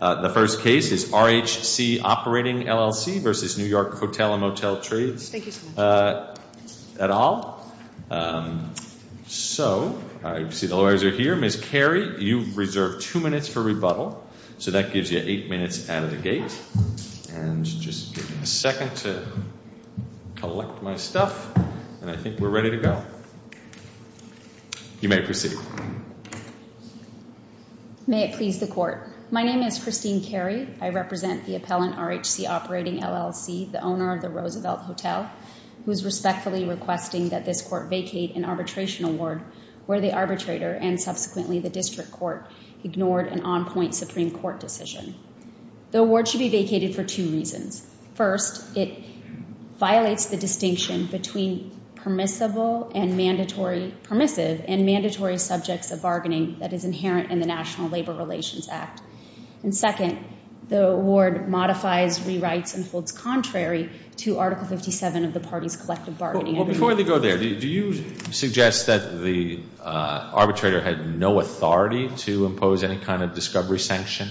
The first case is RHC Operating LLC v. New York Hotel & Motel Trades et al. So, I see the lawyers are here. Ms. Carey, you reserve two minutes for rebuttal. So that gives you eight minutes out of the gate. And just give me a second to collect my stuff, and I think we're ready to go. You may proceed. May it please the court. My name is Christine Carey. I represent the appellant RHC Operating LLC, the owner of the Roosevelt Hotel, who is respectfully requesting that this court vacate an arbitration award where the arbitrator and subsequently the district court ignored an on-point Supreme Court decision. The award should be vacated for two reasons. First, it violates the distinction between permissible and mandatory, permissive, and mandatory subjects of bargaining that is inherent in the National Labor Relations Act. And second, the award modifies, rewrites, and holds contrary to Article 57 of the party's collective bargaining. Before we go there, do you suggest that the arbitrator had no authority to impose any kind of discovery sanction?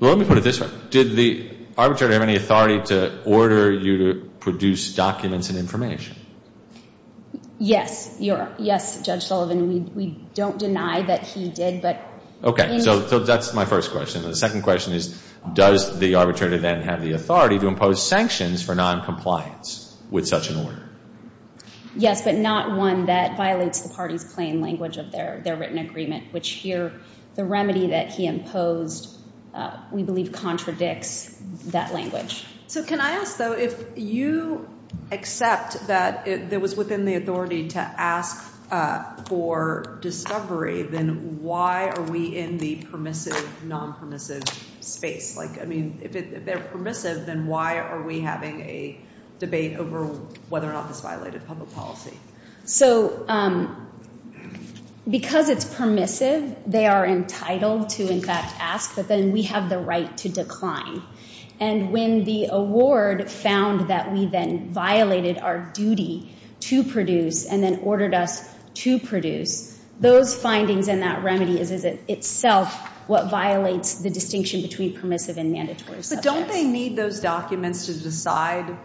Well, let me put it this way. Did the arbitrator have any authority to order you to produce documents and information? Yes. Yes, Judge Sullivan. We don't deny that he did. Okay. So that's my first question. The second question is, does the arbitrator then have the authority to impose sanctions for noncompliance with such an order? Yes, but not one that violates the party's plain language of their written agreement, which here the remedy that he imposed we believe contradicts that language. So can I ask, though, if you accept that it was within the authority to ask for discovery, then why are we in the permissive, nonpermissive space? Like, I mean, if they're permissive, then why are we having a debate over whether or not this violated public policy? So because it's permissive, they are entitled to, in fact, ask, but then we have the right to decline. And when the award found that we then violated our duty to produce and then ordered us to produce, those findings and that remedy is itself what violates the distinction between permissive and mandatory subjects. But don't they need those documents to decide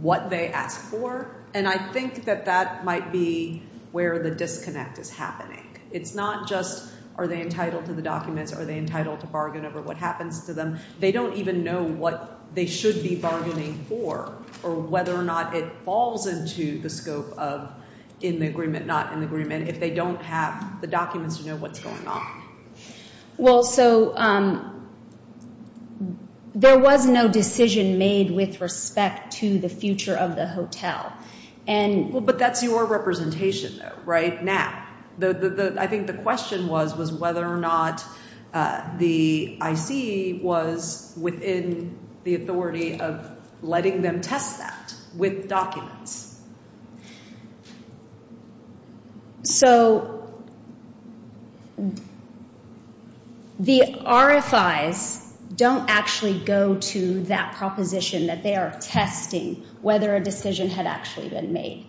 what they ask for? And I think that that might be where the disconnect is happening. It's not just are they entitled to the documents, are they entitled to bargain over what happens to them. They don't even know what they should be bargaining for or whether or not it falls into the scope of in the agreement, not in the agreement, if they don't have the documents to know what's going on. Well, so there was no decision made with respect to the future of the hotel and. Well, but that's your representation right now. I think the question was, was whether or not the I.C. was within the authority of letting them test that with documents. So the RFIs don't actually go to that proposition that they are testing whether a decision had actually been made.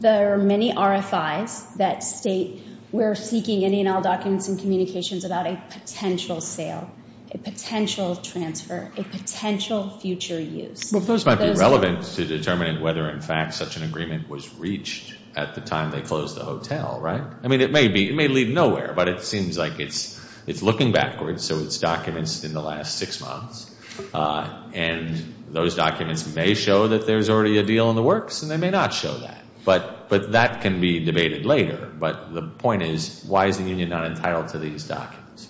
There are many RFIs that state we're seeking Indian Isle documents and communications about a potential sale, a potential transfer, a potential future use. Well, those might be relevant to determining whether in fact such an agreement was reached at the time they closed the hotel, right? I mean, it may lead nowhere, but it seems like it's looking backwards. So it's documents in the last six months, and those documents may show that there's already a deal in the works, and they may not show that, but that can be debated later. But the point is, why is the union not entitled to these documents?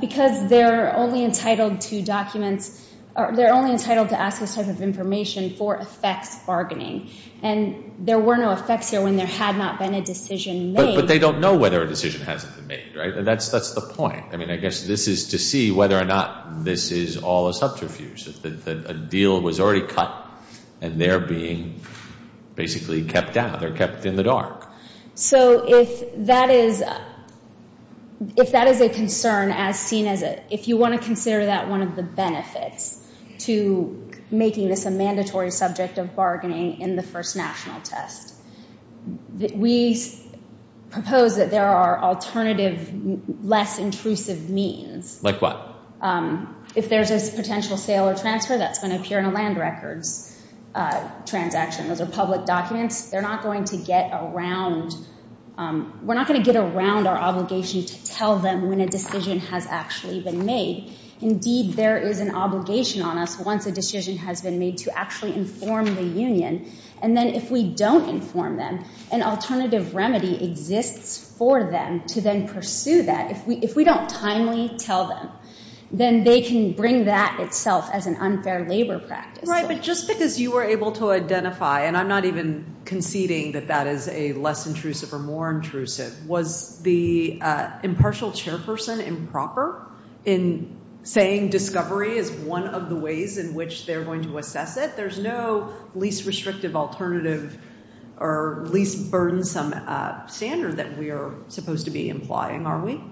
Because they're only entitled to documents. They're only entitled to access type of information for effects bargaining, and there were no effects here when there had not been a decision made. But they don't know whether a decision hasn't been made, right? That's the point. I mean, I guess this is to see whether or not this is all a subterfuge, that a deal was already cut, and they're being basically kept down. They're kept in the dark. So if that is a concern, if you want to consider that one of the benefits to making this a mandatory subject of bargaining in the first national test, we propose that there are alternative, less intrusive means. Like what? If there's a potential sale or transfer, that's going to appear in a land records transaction. Those are public documents. They're not going to get around. We're not going to get around our obligation to tell them when a decision has actually been made. Indeed, there is an obligation on us once a decision has been made to actually inform the union. And then if we don't inform them, an alternative remedy exists for them to then pursue that. If we don't timely tell them, then they can bring that itself as an unfair labor practice. Right, but just because you were able to identify, and I'm not even conceding that that is a less intrusive or more intrusive, was the impartial chairperson improper in saying discovery is one of the ways in which they're going to assess it? There's no least restrictive alternative or least burdensome standard that we are supposed to be implying, are we?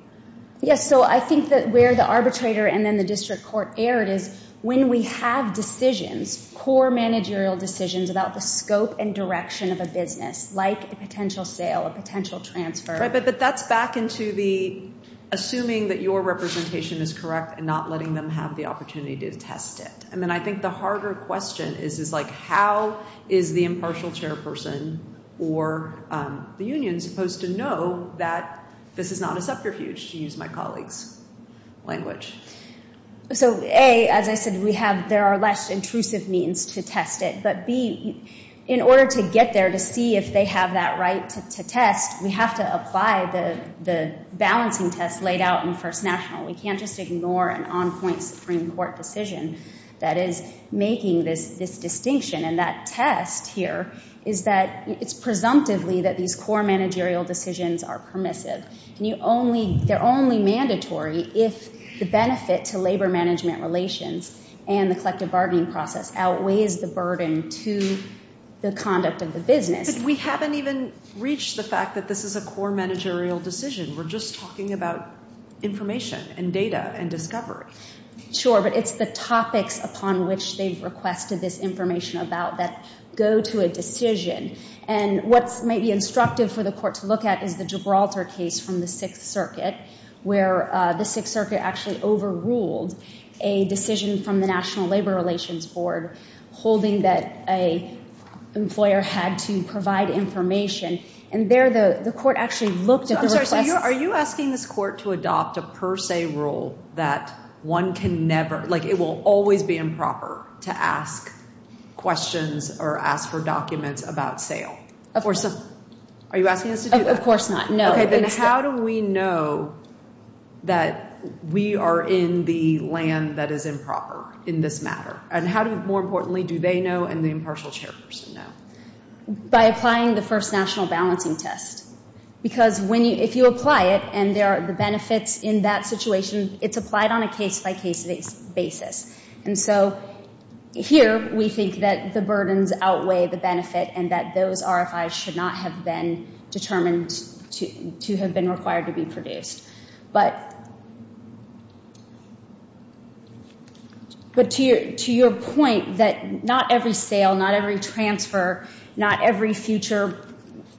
Yes, so I think that where the arbitrator and then the district court erred is when we have decisions, core managerial decisions about the scope and direction of a business like a potential sale, a potential transfer. Right, but that's back into the assuming that your representation is correct and not letting them have the opportunity to test it. And then I think the harder question is how is the impartial chairperson or the union supposed to know that this is not a subterfuge, to use my colleague's language? So A, as I said, there are less intrusive means to test it. But B, in order to get there to see if they have that right to test, we have to apply the balancing test laid out in First National. We can't just ignore an on-point Supreme Court decision that is making this distinction. And that test here is that it's presumptively that these core managerial decisions are permissive. They're only mandatory if the benefit to labor management relations and the collective bargaining process outweighs the burden to the conduct of the business. But we haven't even reached the fact that this is a core managerial decision. We're just talking about information and data and discovery. Sure, but it's the topics upon which they've requested this information about that go to a decision. And what's maybe instructive for the court to look at is the Gibraltar case from the Sixth Circuit, where the Sixth Circuit actually overruled a decision from the National Labor Relations Board holding that an employer had to provide information. And there the court actually looked at the request. Are you asking this court to adopt a per se rule that one can never, like it will always be improper to ask questions or ask for documents about sale? Of course not. Are you asking us to do that? Of course not, no. Okay, then how do we know that we are in the land that is improper in this matter? And how do, more importantly, do they know and the impartial chairperson know? By applying the first national balancing test. Because if you apply it and there are the benefits in that situation, it's applied on a case-by-case basis. And so here we think that the burdens outweigh the benefit and that those RFIs should not have been determined to have been required to be produced. But to your point that not every sale, not every transfer, not every future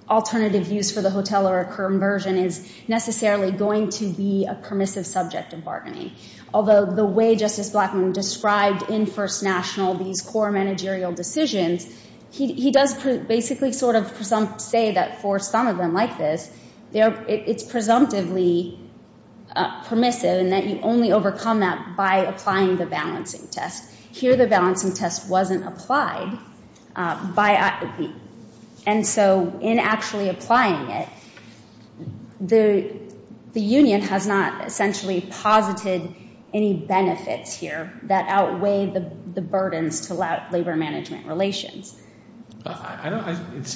alternative use for the hotel or a current version is necessarily going to be a permissive subject of bargaining. Although the way Justice Blackmun described in first national these core managerial decisions, he does basically sort of say that for some of them like this, it's presumptively permissive in that you only overcome that by applying the balancing test. Here the balancing test wasn't applied. And so in actually applying it, the union has not essentially posited any benefits here that outweigh the burdens to labor management relations. This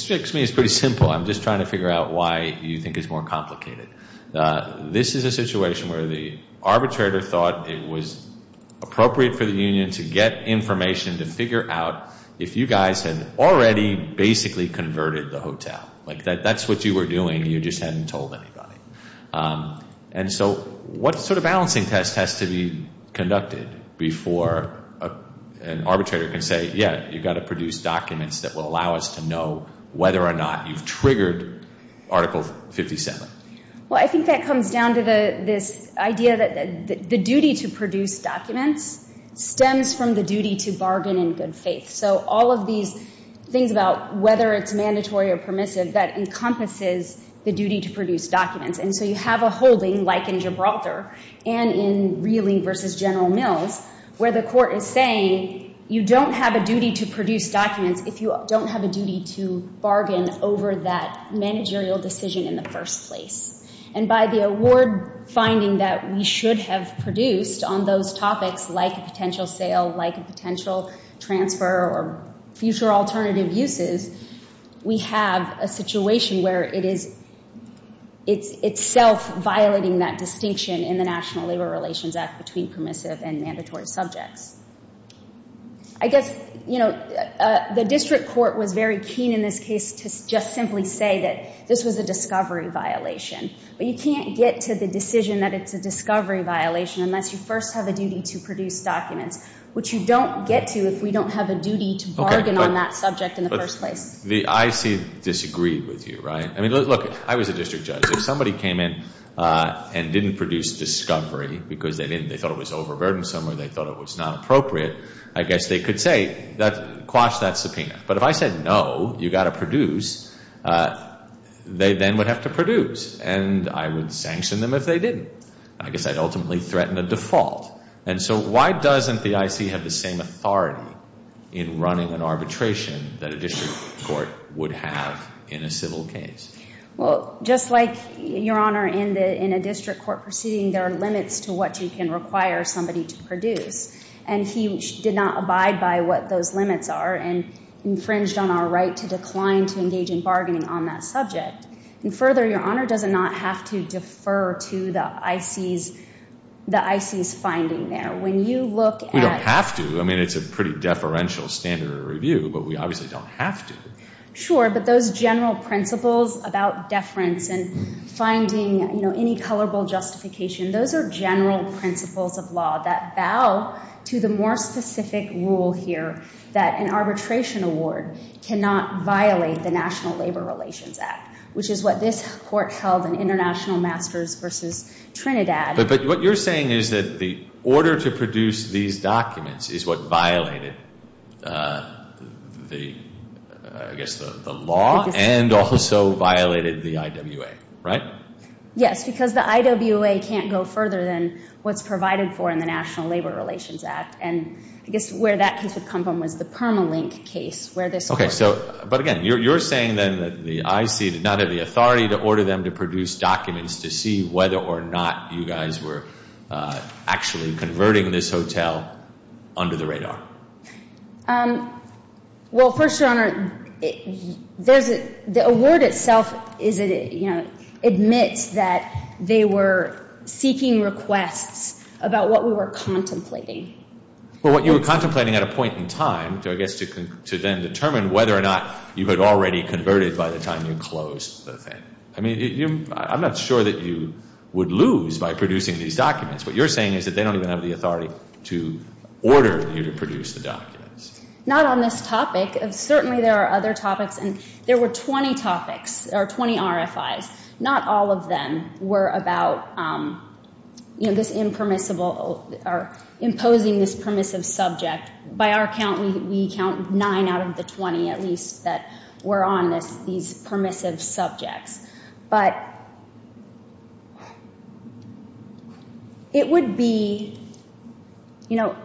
strikes me as pretty simple. I'm just trying to figure out why you think it's more complicated. This is a situation where the arbitrator thought it was appropriate for the union to get information to figure out if you guys had already basically converted the hotel. Like that's what you were doing, you just hadn't told anybody. And so what sort of balancing test has to be conducted before an arbitrator can say, yeah, you've got to produce documents that will allow us to know whether or not you've triggered Article 57? Well, I think that comes down to this idea that the duty to produce documents stems from the duty to bargain in good faith. So all of these things about whether it's mandatory or permissive, that encompasses the duty to produce documents. And so you have a holding like in Gibraltar and in Reiling v. General Mills where the court is saying you don't have a duty to produce documents if you don't have a duty to bargain over that managerial decision in the first place. And by the award finding that we should have produced on those topics like a potential sale, like a potential transfer or future alternative uses, we have a situation where it is itself violating that distinction in the National Labor Relations Act between permissive and mandatory subjects. I guess, you know, the district court was very keen in this case to just simply say that this was a discovery violation. But you can't get to the decision that it's a discovery violation unless you first have a duty to produce documents, which you don't get to if we don't have a duty to bargain on that subject in the first place. The IC disagreed with you, right? I mean, look, I was a district judge. Because if somebody came in and didn't produce discovery because they thought it was overburdensome or they thought it was not appropriate, I guess they could say quash that subpoena. But if I said no, you've got to produce, they then would have to produce. And I would sanction them if they didn't. I guess I'd ultimately threaten a default. And so why doesn't the IC have the same authority in running an arbitration that a district court would have in a civil case? Well, just like, Your Honor, in a district court proceeding, there are limits to what you can require somebody to produce. And he did not abide by what those limits are and infringed on our right to decline to engage in bargaining on that subject. And further, Your Honor, does it not have to defer to the IC's finding there? When you look at – We don't have to. I mean, it's a pretty deferential standard of review. But we obviously don't have to. Sure, but those general principles about deference and finding, you know, any colorable justification, those are general principles of law that bow to the more specific rule here that an arbitration award cannot violate the National Labor Relations Act, which is what this court held in International Masters v. Trinidad. But what you're saying is that the order to produce these documents is what violated, I guess, the law and also violated the IWA, right? Yes, because the IWA can't go further than what's provided for in the National Labor Relations Act. And I guess where that case would come from was the Permalink case where this court – Okay, so – but again, you're saying then that the IC did not have the authority to order them to produce documents to see whether or not you guys were actually converting this hotel under the radar. Well, first, Your Honor, there's – the award itself is – you know, admits that they were seeking requests about what we were contemplating. Well, what you were contemplating at a point in time, I guess, to then determine whether or not you had already converted by the time you closed the thing. I mean, I'm not sure that you would lose by producing these documents. What you're saying is that they don't even have the authority to order you to produce the documents. Not on this topic. Certainly there are other topics, and there were 20 topics or 20 RFIs. Not all of them were about, you know, this impermissible – or imposing this permissive subject. By our count, we count nine out of the 20 at least that were on these permissive subjects. But it would be – you know,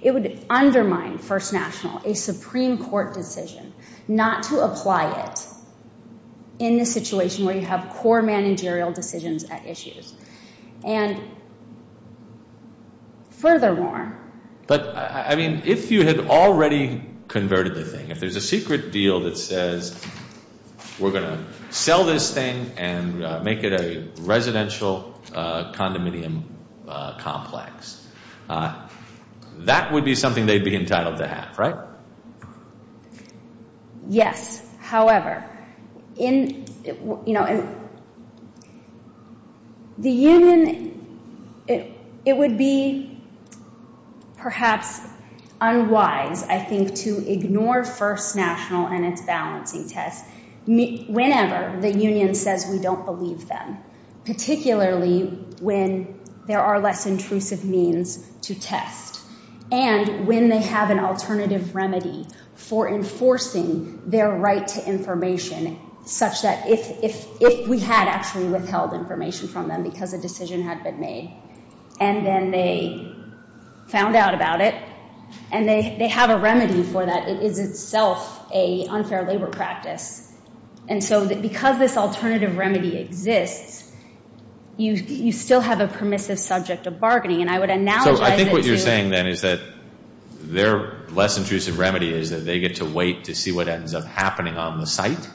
it would undermine First National, a Supreme Court decision, not to apply it in the situation where you have core managerial decisions at issues. And furthermore – But, I mean, if you had already converted the thing, if there's a secret deal that says, we're going to sell this thing and make it a residential condominium complex, that would be something they'd be entitled to have, right? Yes. However, in – you know, the union – it would be perhaps unwise, I think, to ignore First National and its balancing test whenever the union says we don't believe them, particularly when there are less intrusive means to test, and when they have an alternative remedy for enforcing their right to information, such that if we had actually withheld information from them because a decision had been made, and then they found out about it, and they have a remedy for that, it is itself an unfair labor practice. And so because this alternative remedy exists, you still have a permissive subject of bargaining. And I would analogize it to – So I think what you're saying then is that their less intrusive remedy is that they get to wait to see what ends up happening on the site,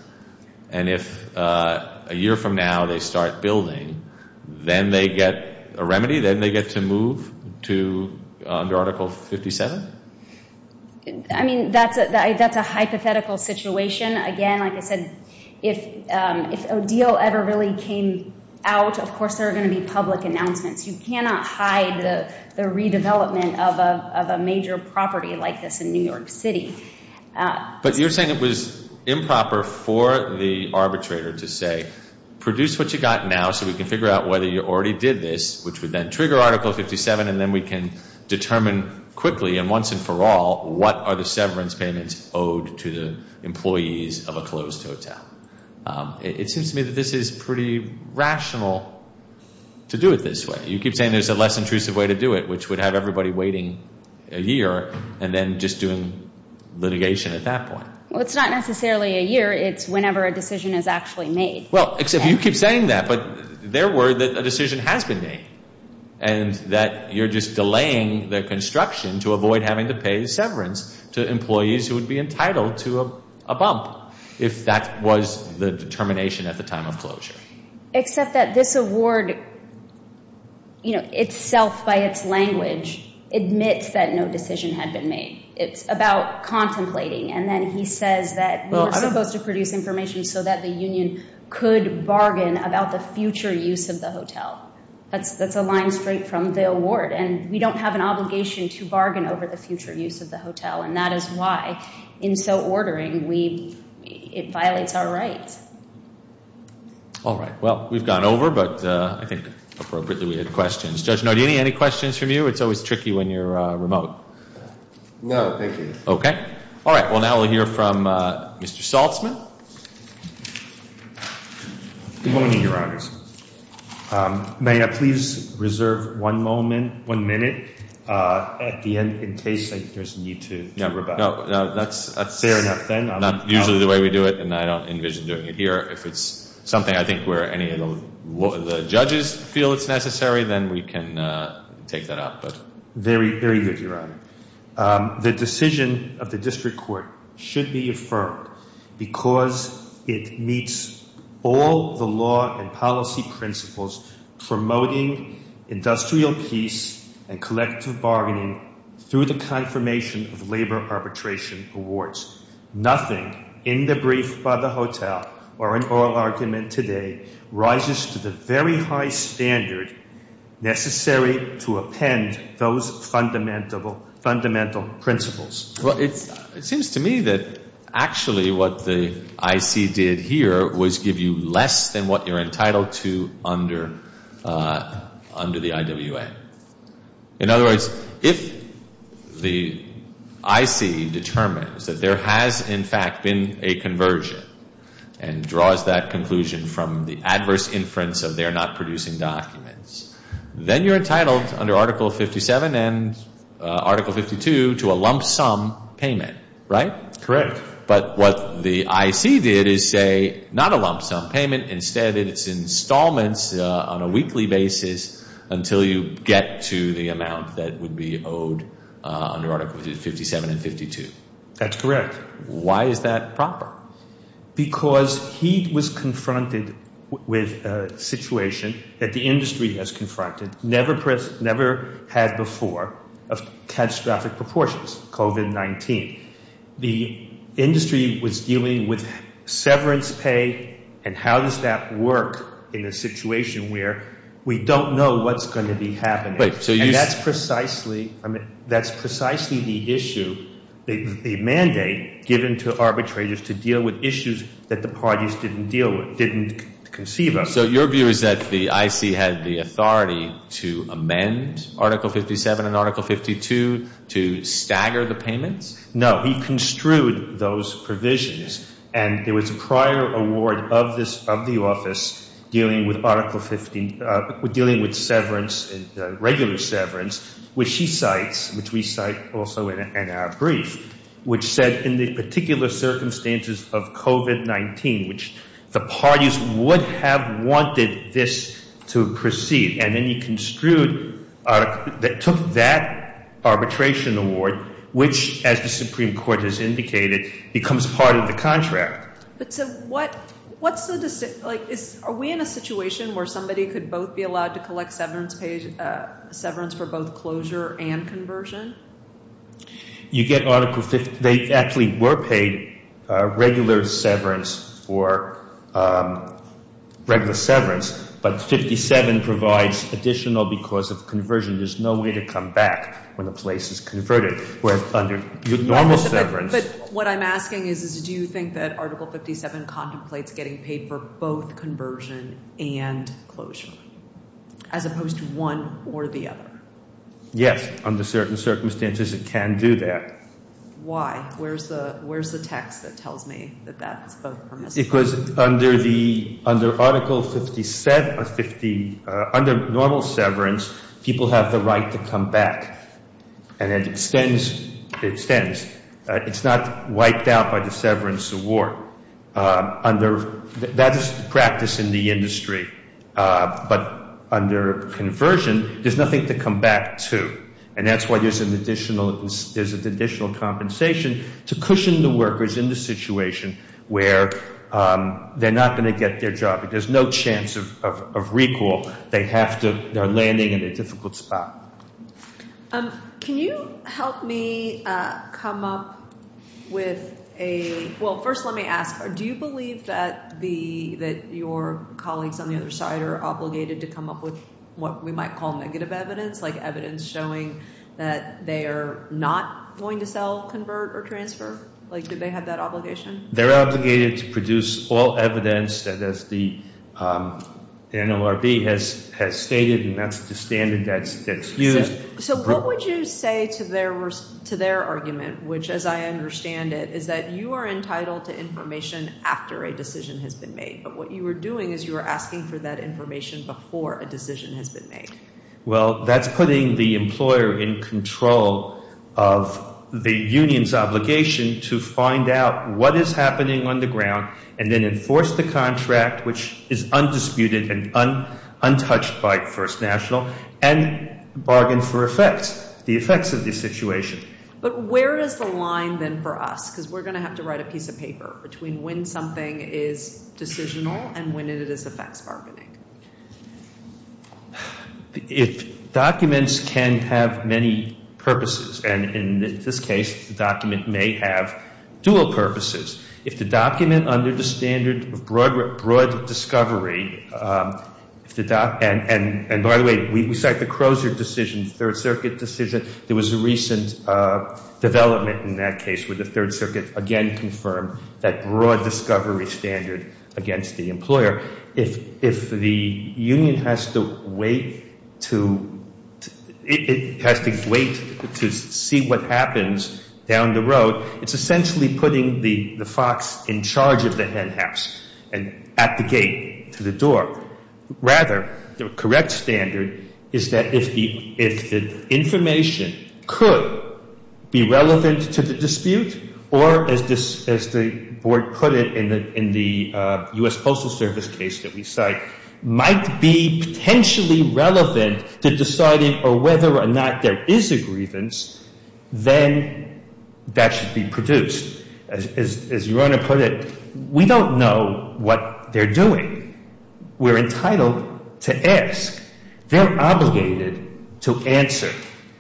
and if a year from now they start building, then they get a remedy, then they get to move to – under Article 57? I mean, that's a hypothetical situation. Again, like I said, if a deal ever really came out, of course there are going to be public announcements. You cannot hide the redevelopment of a major property like this in New York City. But you're saying it was improper for the arbitrator to say, produce what you've got now so we can figure out whether you already did this, which would then trigger Article 57, and then we can determine quickly and once and for all what are the severance payments owed to the employees of a closed hotel. It seems to me that this is pretty rational to do it this way. You keep saying there's a less intrusive way to do it, which would have everybody waiting a year and then just doing litigation at that point. Well, it's not necessarily a year. It's whenever a decision is actually made. Well, except you keep saying that, but they're worried that a decision has been made and that you're just delaying the construction to avoid having to pay severance to employees who would be entitled to a bump if that was the determination at the time of closure. Except that this award itself, by its language, admits that no decision had been made. It's about contemplating, and then he says that we were supposed to produce information so that the union could bargain about the future use of the hotel. That's a line straight from the award. And we don't have an obligation to bargain over the future use of the hotel, and that is why in so ordering it violates our rights. All right. Well, we've gone over, but I think appropriately we had questions. Judge Nardini, any questions from you? It's always tricky when you're remote. No, thank you. Okay. All right. Well, now we'll hear from Mr. Saltzman. Good morning, Your Honors. May I please reserve one moment, one minute at the end in case there's a need to rebut? No, that's not usually the way we do it, and I don't envision doing it here. If it's something I think where any of the judges feel it's necessary, then we can take that up. Very good, Your Honor. The decision of the district court should be affirmed because it meets all the law and policy principles promoting industrial peace and collective bargaining through the confirmation of labor arbitration awards. Nothing in the brief by the hotel or in oral argument today rises to the very high standard necessary to append those fundamental principles. Well, it seems to me that actually what the IC did here was give you less than what you're entitled to under the IWA. In other words, if the IC determines that there has, in fact, been a conversion and draws that conclusion from the adverse inference of they're not producing documents, then you're entitled under Article 57 and Article 52 to a lump sum payment, right? Correct. But what the IC did is say not a lump sum payment, instead it's installments on a weekly basis until you get to the amount that would be owed under Articles 57 and 52. That's correct. Why is that proper? Because he was confronted with a situation that the industry has confronted, never had before of catastrophic proportions, COVID-19. The industry was dealing with severance pay and how does that work in a situation where we don't know what's going to be happening. And that's precisely the issue, the mandate given to arbitrators to deal with issues that the parties didn't deal with, didn't conceive of. So your view is that the IC had the authority to amend Article 57 and Article 52 to stagger the payments? No. He construed those provisions. And there was a prior award of the office dealing with Article 15, dealing with severance, regular severance, which he cites, which we cite also in our brief, which said in the particular circumstances of COVID-19, which the parties would have wanted this to proceed. And then he construed, took that arbitration award, which, as the Supreme Court has indicated, becomes part of the contract. But so what's the decision? Are we in a situation where somebody could both be allowed to collect severance for both closure and conversion? You get Article 50. They actually were paid regular severance for regular severance, but 57 provides additional because of conversion. There's no way to come back when a place is converted, whereas under normal severance. But what I'm asking is do you think that Article 57 contemplates getting paid for both conversion and closure as opposed to one or the other? Yes. Under certain circumstances, it can do that. Why? Where's the text that tells me that that's permissible? Because under Article 57, under normal severance, people have the right to come back. And it extends. It's not wiped out by the severance award. That is the practice in the industry. But under conversion, there's nothing to come back to. And that's why there's an additional compensation to cushion the workers in the situation where they're not going to get their job. There's no chance of recall. They're landing in a difficult spot. Can you help me come up with a – well, first let me ask, do you believe that your colleagues on the other side are obligated to come up with what we might call negative evidence, like evidence showing that they are not going to sell, convert, or transfer? Like, do they have that obligation? They're obligated to produce all evidence that, as the NORB has stated, and that's the standard that's used. So what would you say to their argument, which, as I understand it, is that you are entitled to information after a decision has been made, but what you were doing is you were asking for that information before a decision has been made. Well, that's putting the employer in control of the union's obligation to find out what is happening on the ground and then enforce the contract, which is undisputed and untouched by First National, and bargain for effects, the effects of the situation. But where is the line then for us? Because we're going to have to write a piece of paper between when something is decisional and when it is effects bargaining. Documents can have many purposes, and in this case, the document may have dual purposes. If the document under the standard of broad discovery, and by the way, we cite the Crozer decision, the Third Circuit decision. There was a recent development in that case where the Third Circuit again confirmed that broad discovery standard against the employer. If the union has to wait to see what happens down the road, it's essentially putting the fox in charge of the henhouse and at the gate to the door. Rather, the correct standard is that if the information could be relevant to the dispute or, as the board put it in the U.S. Postal Service case that we cite, might be potentially relevant to deciding whether or not there is a grievance, then that should be produced. As your Honor put it, we don't know what they're doing. We're entitled to ask. They're obligated to answer.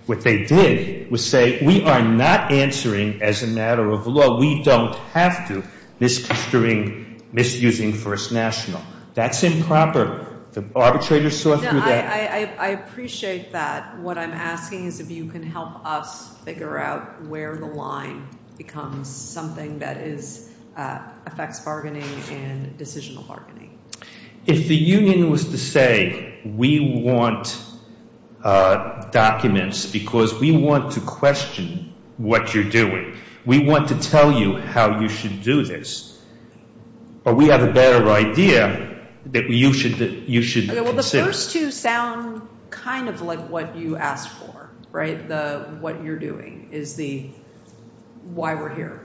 What they did was say, we are not answering as a matter of law. We don't have to, misconstruing, misusing First National. That's improper. The arbitrator saw through that. I appreciate that. What I'm asking is if you can help us figure out where the line becomes something that is effects bargaining and decisional bargaining. If the union was to say, we want documents because we want to question what you're doing. We want to tell you how you should do this. But we have a better idea that you should consider. Well, the first two sound kind of like what you asked for, right? What you're doing is the why we're here.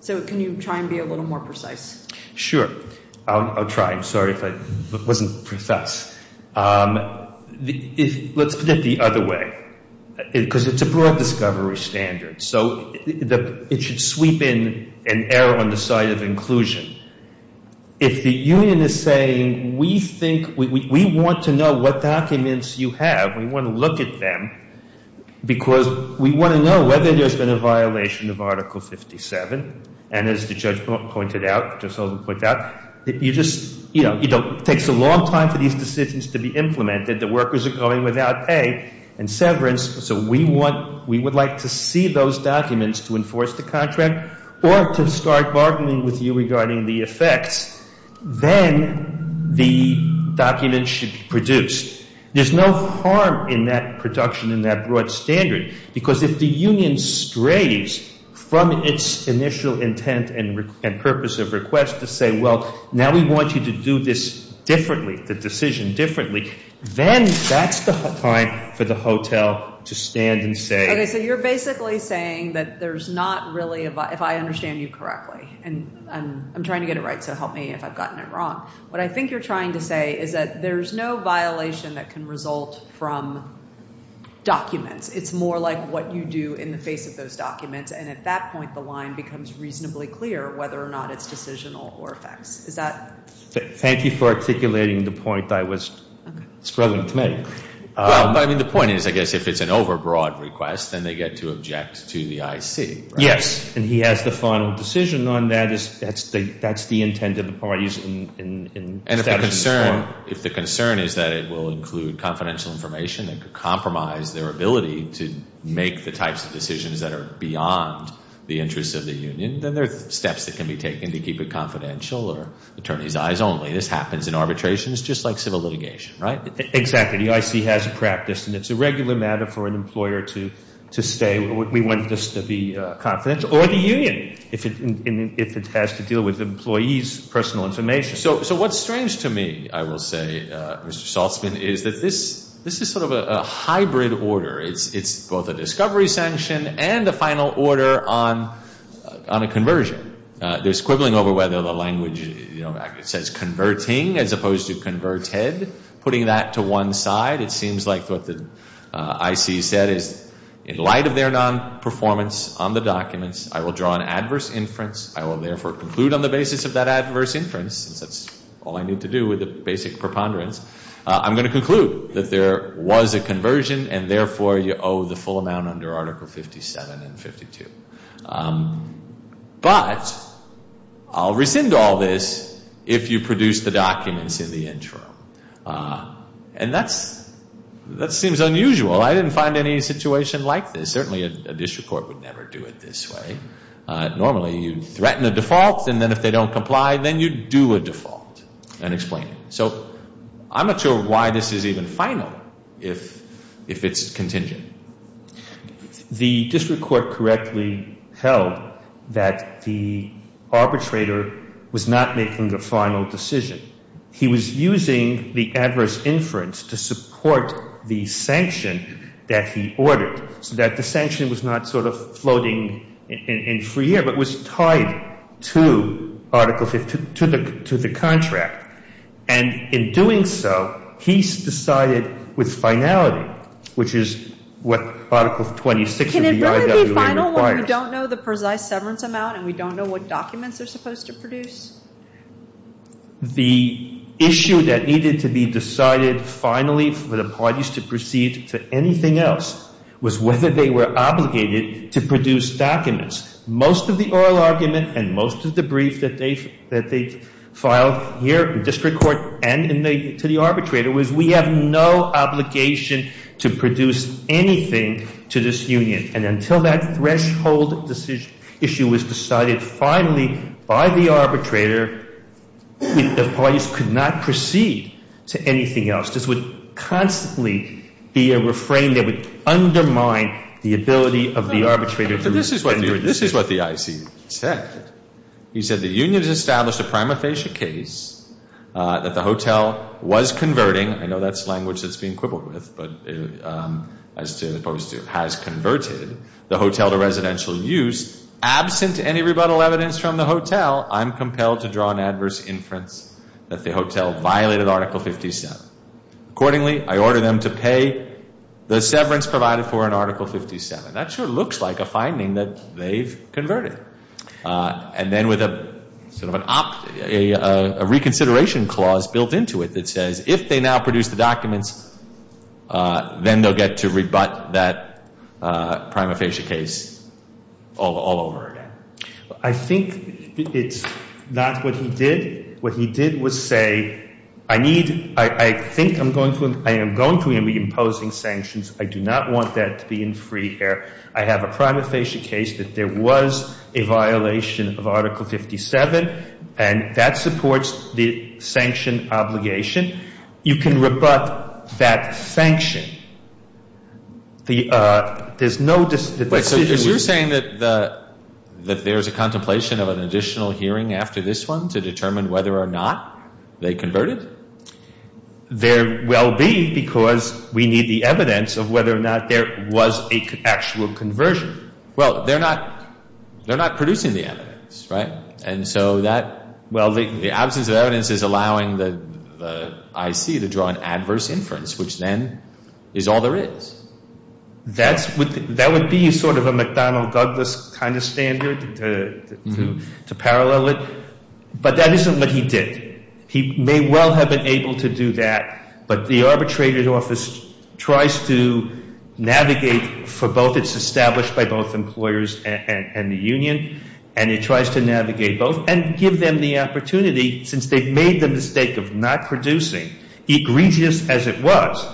So can you try and be a little more precise? Sure. I'll try. I'm sorry if I wasn't precise. Let's put it the other way, because it's a broad discovery standard. So it should sweep in and err on the side of inclusion. If the union is saying, we want to know what documents you have. We want to look at them. Because we want to know whether there's been a violation of Article 57. And as the judge pointed out, you just, you know, it takes a long time for these decisions to be implemented. The workers are going without pay and severance. So we want, we would like to see those documents to enforce the contract or to start bargaining with you regarding the effects. Then the documents should be produced. There's no harm in that production in that broad standard. Because if the union strays from its initial intent and purpose of request to say, well, now we want you to do this differently, the decision differently. Then that's the time for the hotel to stand and say. Okay, so you're basically saying that there's not really a, if I understand you correctly. And I'm trying to get it right, so help me if I've gotten it wrong. What I think you're trying to say is that there's no violation that can result from documents. It's more like what you do in the face of those documents. And at that point, the line becomes reasonably clear whether or not it's decisional or facts. Is that? Thank you for articulating the point I was struggling to make. I mean, the point is, I guess, if it's an overbroad request, then they get to object to the IC. Yes. And he has the final decision on that. That's the intent of the parties in establishing the forum. And if the concern is that it will include confidential information that could compromise their ability to make the types of decisions that are beyond the interests of the union, then there are steps that can be taken to keep it confidential or attorney's eyes only. This happens in arbitrations just like civil litigation, right? Exactly. The IC has a practice. And it's a regular matter for an employer to stay. We want this to be confidential. Or the union, if it has to deal with employees' personal information. So what's strange to me, I will say, Mr. Saltzman, is that this is sort of a hybrid order. It's both a discovery sanction and a final order on a conversion. There's quibbling over whether the language says converting as opposed to converted, putting that to one side. It seems like what the IC said is, in light of their non-performance on the documents, I will draw an adverse inference. I will, therefore, conclude on the basis of that adverse inference, since that's all I need to do with the basic preponderance. I'm going to conclude that there was a conversion and, therefore, you owe the full amount under Article 57 and 52. But I'll rescind all this if you produce the documents in the intro. And that seems unusual. I didn't find any situation like this. Certainly, a district court would never do it this way. Normally, you'd threaten a default, and then if they don't comply, then you'd do a default and explain it. So I'm not sure why this is even final if it's contingent. The district court correctly held that the arbitrator was not making a final decision. He was using the adverse inference to support the sanction that he ordered, so that the sanction was not sort of floating in free air, but was tied to Article 52, to the contract. And in doing so, he decided with finality, which is what Article 26 of the IWA requires. Can it really be final when we don't know the precise severance amount and we don't know what documents they're supposed to produce? The issue that needed to be decided finally for the parties to proceed to anything else was whether they were obligated to produce documents. Most of the oral argument and most of the brief that they filed here in district court and to the arbitrator was we have no obligation to produce anything to this union. And until that threshold issue was decided finally by the arbitrator, the parties could not proceed to anything else. This would constantly be a refrain that would undermine the ability of the arbitrator. This is what the IC said. He said the union has established a prima facie case that the hotel was converting. I know that's language that's being quibbled with, but as opposed to has converted the hotel to residential use. Absent any rebuttal evidence from the hotel, I'm compelled to draw an adverse inference that the hotel violated Article 57. Accordingly, I order them to pay the severance provided for in Article 57. That sure looks like a finding that they've converted. And then with a reconsideration clause built into it that says if they now produce the documents, then they'll get to rebut that prima facie case all over again. I think it's not what he did. What he did was say I need, I think I'm going to, I am going to be imposing sanctions. I do not want that to be in free air. I have a prima facie case that there was a violation of Article 57, and that supports the sanction obligation. You can rebut that sanction. There's no decision. So you're saying that there's a contemplation of an additional hearing after this one to determine whether or not they converted? There will be because we need the evidence of whether or not there was an actual conversion. Well, they're not producing the evidence, right? And so that, well, the absence of evidence is allowing the IC to draw an adverse inference, which then is all there is. That would be sort of a McDonnell Douglas kind of standard to parallel it. But that isn't what he did. He may well have been able to do that, but the arbitrated office tries to navigate for both. It's established by both employers and the union, and it tries to navigate both and give them the opportunity, since they've made the mistake of not producing, egregious as it was,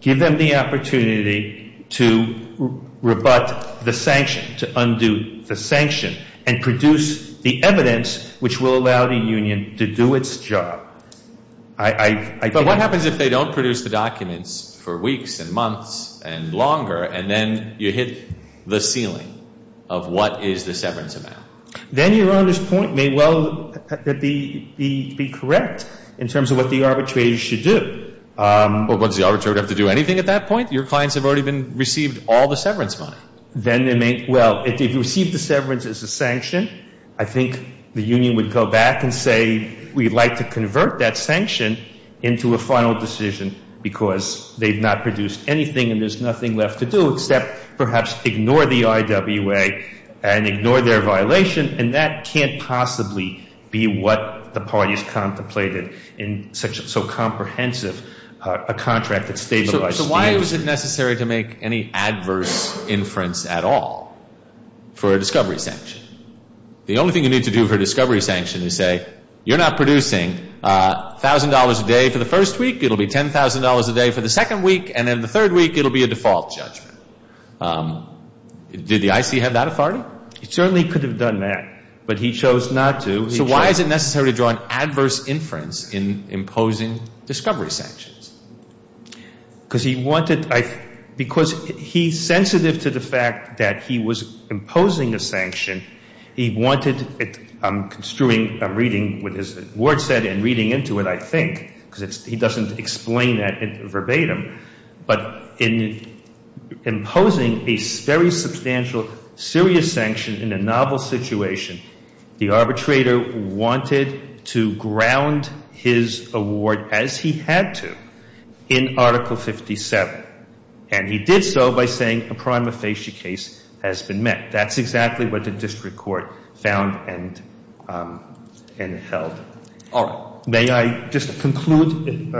give them the opportunity to rebut the sanction, to undo the sanction, and produce the evidence which will allow the union to do its job. But what happens if they don't produce the documents for weeks and months and longer, and then you hit the ceiling of what is the severance amount? Then Your Honor's point may well be correct in terms of what the arbitrators should do. Well, does the arbitrator have to do anything at that point? Your clients have already received all the severance money. Well, if they've received the severance as a sanction, I think the union would go back and say, we'd like to convert that sanction into a final decision because they've not produced anything and there's nothing left to do except perhaps ignore the IWA and ignore their violation, and that can't possibly be what the parties contemplated in such a comprehensive contract. So why is it necessary to make any adverse inference at all for a discovery sanction? The only thing you need to do for a discovery sanction is say, you're not producing $1,000 a day for the first week, it'll be $10,000 a day for the second week, and then the third week it'll be a default judgment. Did the IC have that authority? He certainly could have done that, but he chose not to. So why is it necessary to draw an adverse inference in imposing discovery sanctions? Because he wanted to – because he's sensitive to the fact that he was imposing a sanction, he wanted – I'm construing, I'm reading what his word said and reading into it, I think, because he doesn't explain that verbatim, but in imposing a very substantial, serious sanction in a novel situation, the arbitrator wanted to ground his award as he had to in Article 57, and he did so by saying a prima facie case has been met. That's exactly what the district court found and held. All right. May I just conclude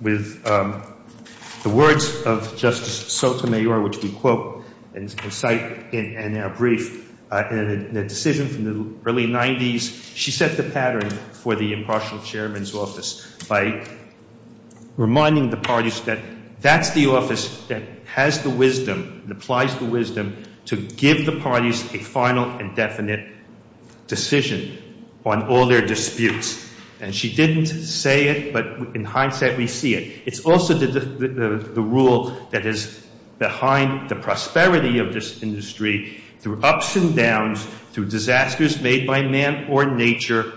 with the words of Justice Sotomayor, which we quote and cite in our brief. In a decision from the early 90s, she set the pattern for the impartial chairman's office by reminding the parties that that's the office that has the wisdom and applies the wisdom to give the parties a final and definite decision on all their disputes. And she didn't say it, but in hindsight we see it. It's also the rule that is behind the prosperity of this industry through ups and downs, through disasters made by man or nature.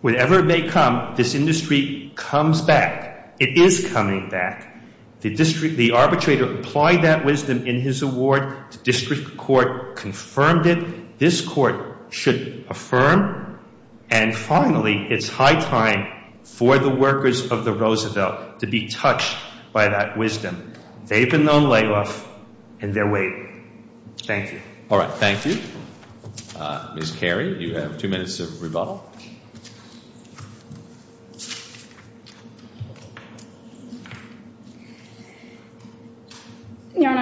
Whatever may come, this industry comes back. It is coming back. The arbitrator applied that wisdom in his award. The district court confirmed it. This court should affirm. And finally, it's high time for the workers of the Roosevelt to be touched by that wisdom. They've been known layoffs and they're waiting. Thank you. All right. Thank you. Ms. Carey, you have two minutes of rebuttal. Okay.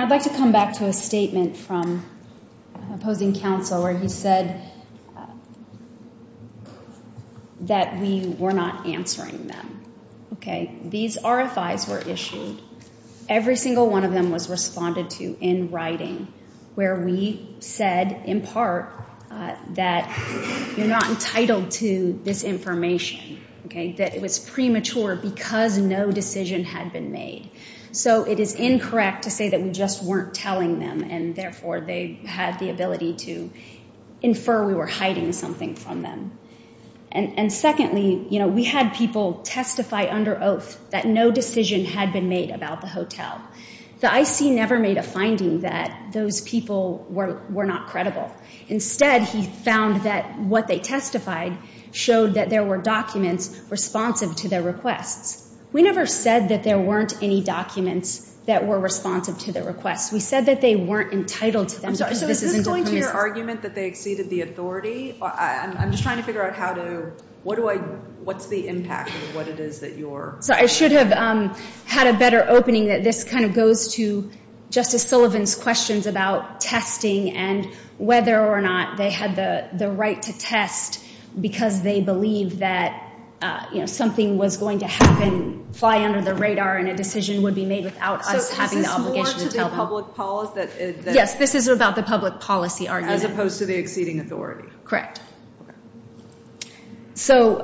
I'd like to come back to a statement from opposing counsel where he said that we were not answering them. Okay. These RFIs were issued. Every single one of them was responded to in writing where we said, in part, that you're not entitled to this information, okay, that it was premature because no decision had been made. So it is incorrect to say that we just weren't telling them and therefore they had the ability to infer we were hiding something from them. And secondly, you know, we had people testify under oath that no decision had been made about the hotel. The IC never made a finding that those people were not credible. Instead, he found that what they testified showed that there were documents responsive to their requests. We never said that there weren't any documents that were responsive to their requests. We said that they weren't entitled to them. I'm sorry. So is this going to your argument that they exceeded the authority? I'm just trying to figure out how to, what do I, what's the impact of what it is that you're. So I should have had a better opening that this kind of goes to Justice Sullivan's questions about testing and whether or not they had the right to test because they believe that, you know, something was going to happen, fly under the radar, and a decision would be made without us having the obligation to tell them. So is this more to the public policy that... Yes, this is about the public policy argument. As opposed to the exceeding authority. Correct. Okay. So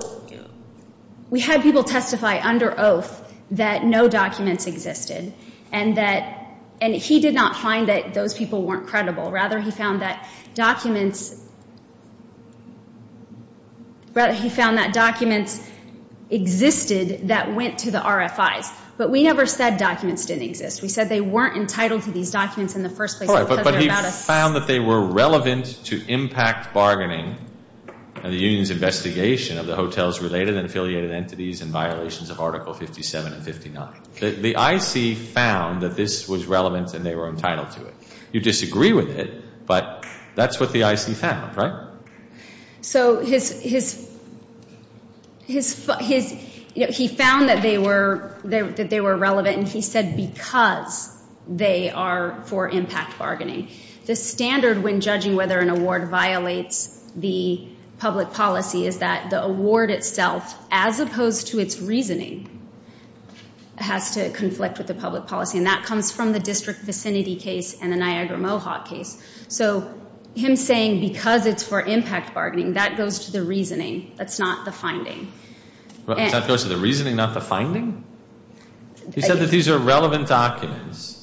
we had people testify under oath that no documents existed and that, and he did not find that those people weren't credible. Rather, he found that documents... Rather, he found that documents existed that went to the RFIs. But we never said documents didn't exist. We said they weren't entitled to these documents in the first place because they're about us. But he found that they were relevant to impact bargaining and the union's investigation of the hotels related and affiliated entities and violations of Article 57 and 59. The IC found that this was relevant and they were entitled to it. You disagree with it, but that's what the IC found, right? So his, you know, he found that they were relevant and he said because they are for impact bargaining. The standard when judging whether an award violates the public policy is that the award itself, as opposed to its reasoning, has to conflict with the public policy, and that comes from the district vicinity case and the Niagara Mohawk case. So him saying because it's for impact bargaining, that goes to the reasoning. That's not the finding. That goes to the reasoning, not the finding? He said that these are relevant documents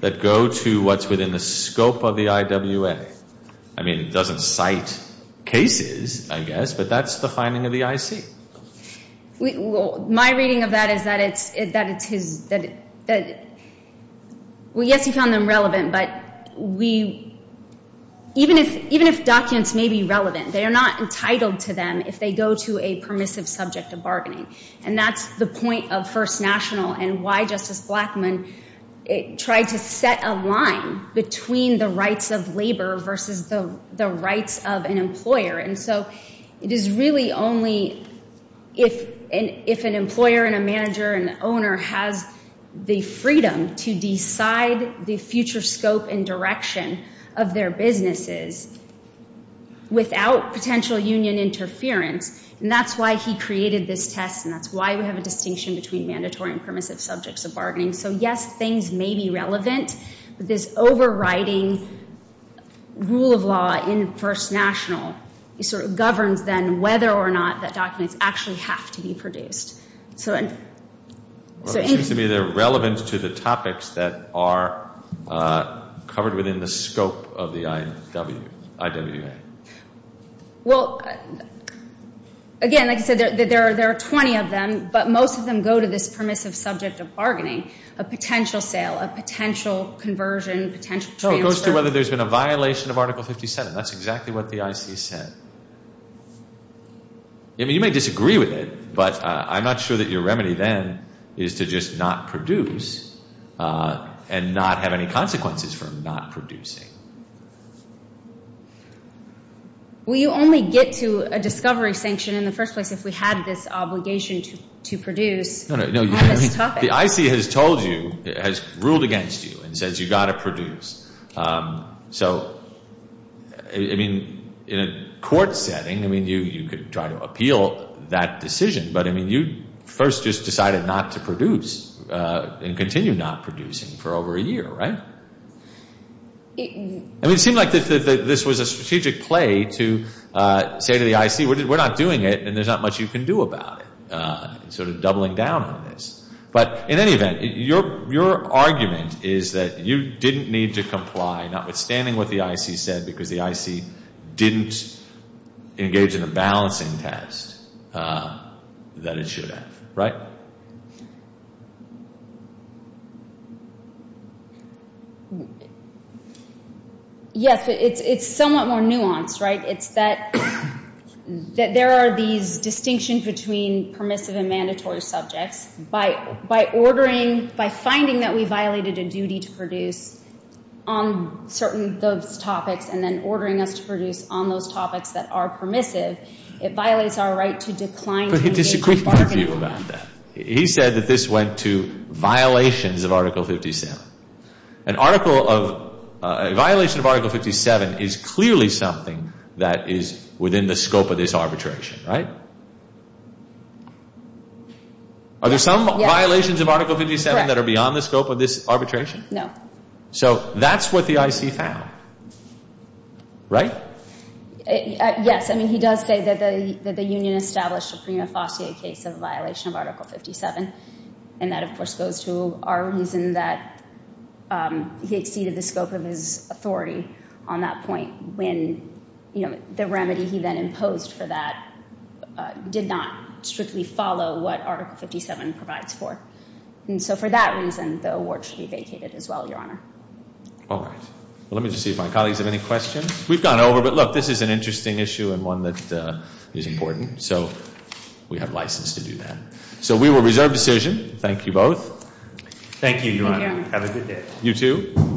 that go to what's within the scope of the IWA. I mean, it doesn't cite cases, I guess, but that's the finding of the IC. My reading of that is that it's his, that, well, yes, he found them relevant, but we, even if documents may be relevant, they are not entitled to them if they go to a permissive subject of bargaining, and that's the point of First National and why Justice Blackmun tried to set a line between the rights of labor versus the rights of an employer, and so it is really only if an employer and a manager and an owner has the freedom to decide the future scope and direction of their businesses without potential union interference, and that's why he created this test, and that's why we have a distinction between mandatory and permissive subjects of bargaining. So, yes, things may be relevant, but this overriding rule of law in First National sort of governs then whether or not that documents actually have to be produced. Well, it seems to me they're relevant to the topics that are covered within the scope of the IWA. Well, again, like I said, there are 20 of them, but most of them go to this permissive subject of bargaining, a potential sale, a potential conversion, potential transfer. So it goes to whether there's been a violation of Article 57. That's exactly what the IC said. I mean, you may disagree with it, but I'm not sure that your remedy then is to just not produce and not have any consequences for not producing. Well, you only get to a discovery sanction in the first place if we had this obligation to produce. No, no. The IC has told you, has ruled against you and says you've got to produce. So, I mean, in a court setting, I mean, you could try to appeal that decision, but, I mean, you first just decided not to produce and continue not producing for over a year, right? I mean, it seemed like this was a strategic play to say to the IC, we're not doing it and there's not much you can do about it, sort of doubling down on this. But in any event, your argument is that you didn't need to comply, notwithstanding what the IC said, because the IC didn't engage in a balancing test that it should have, right? Yes, but it's somewhat more nuanced, right? It's that there are these distinctions between permissive and mandatory subjects. By ordering, by finding that we violated a duty to produce on certain of those topics and then ordering us to produce on those topics that are permissive, it violates our right to decline to engage in bargaining. But he disagreed with you about that. He said that this went to violations of Article 57. A violation of Article 57 is clearly something that is within the scope of this arbitration, right? Are there some violations of Article 57 that are beyond the scope of this arbitration? No. So that's what the IC found, right? Yes, I mean, he does say that the union established a prima facie case of violation of Article 57, and that, of course, goes to our reason that he exceeded the scope of his authority on that point when the remedy he then imposed for that did not strictly follow what Article 57 provides for. And so for that reason, the award should be vacated as well, Your Honor. All right. Well, let me just see if my colleagues have any questions. We've gone over, but look, this is an interesting issue and one that is important, so we have license to do that. So we will reserve decision. Thank you both. Thank you, Your Honor. Have a good day. You too.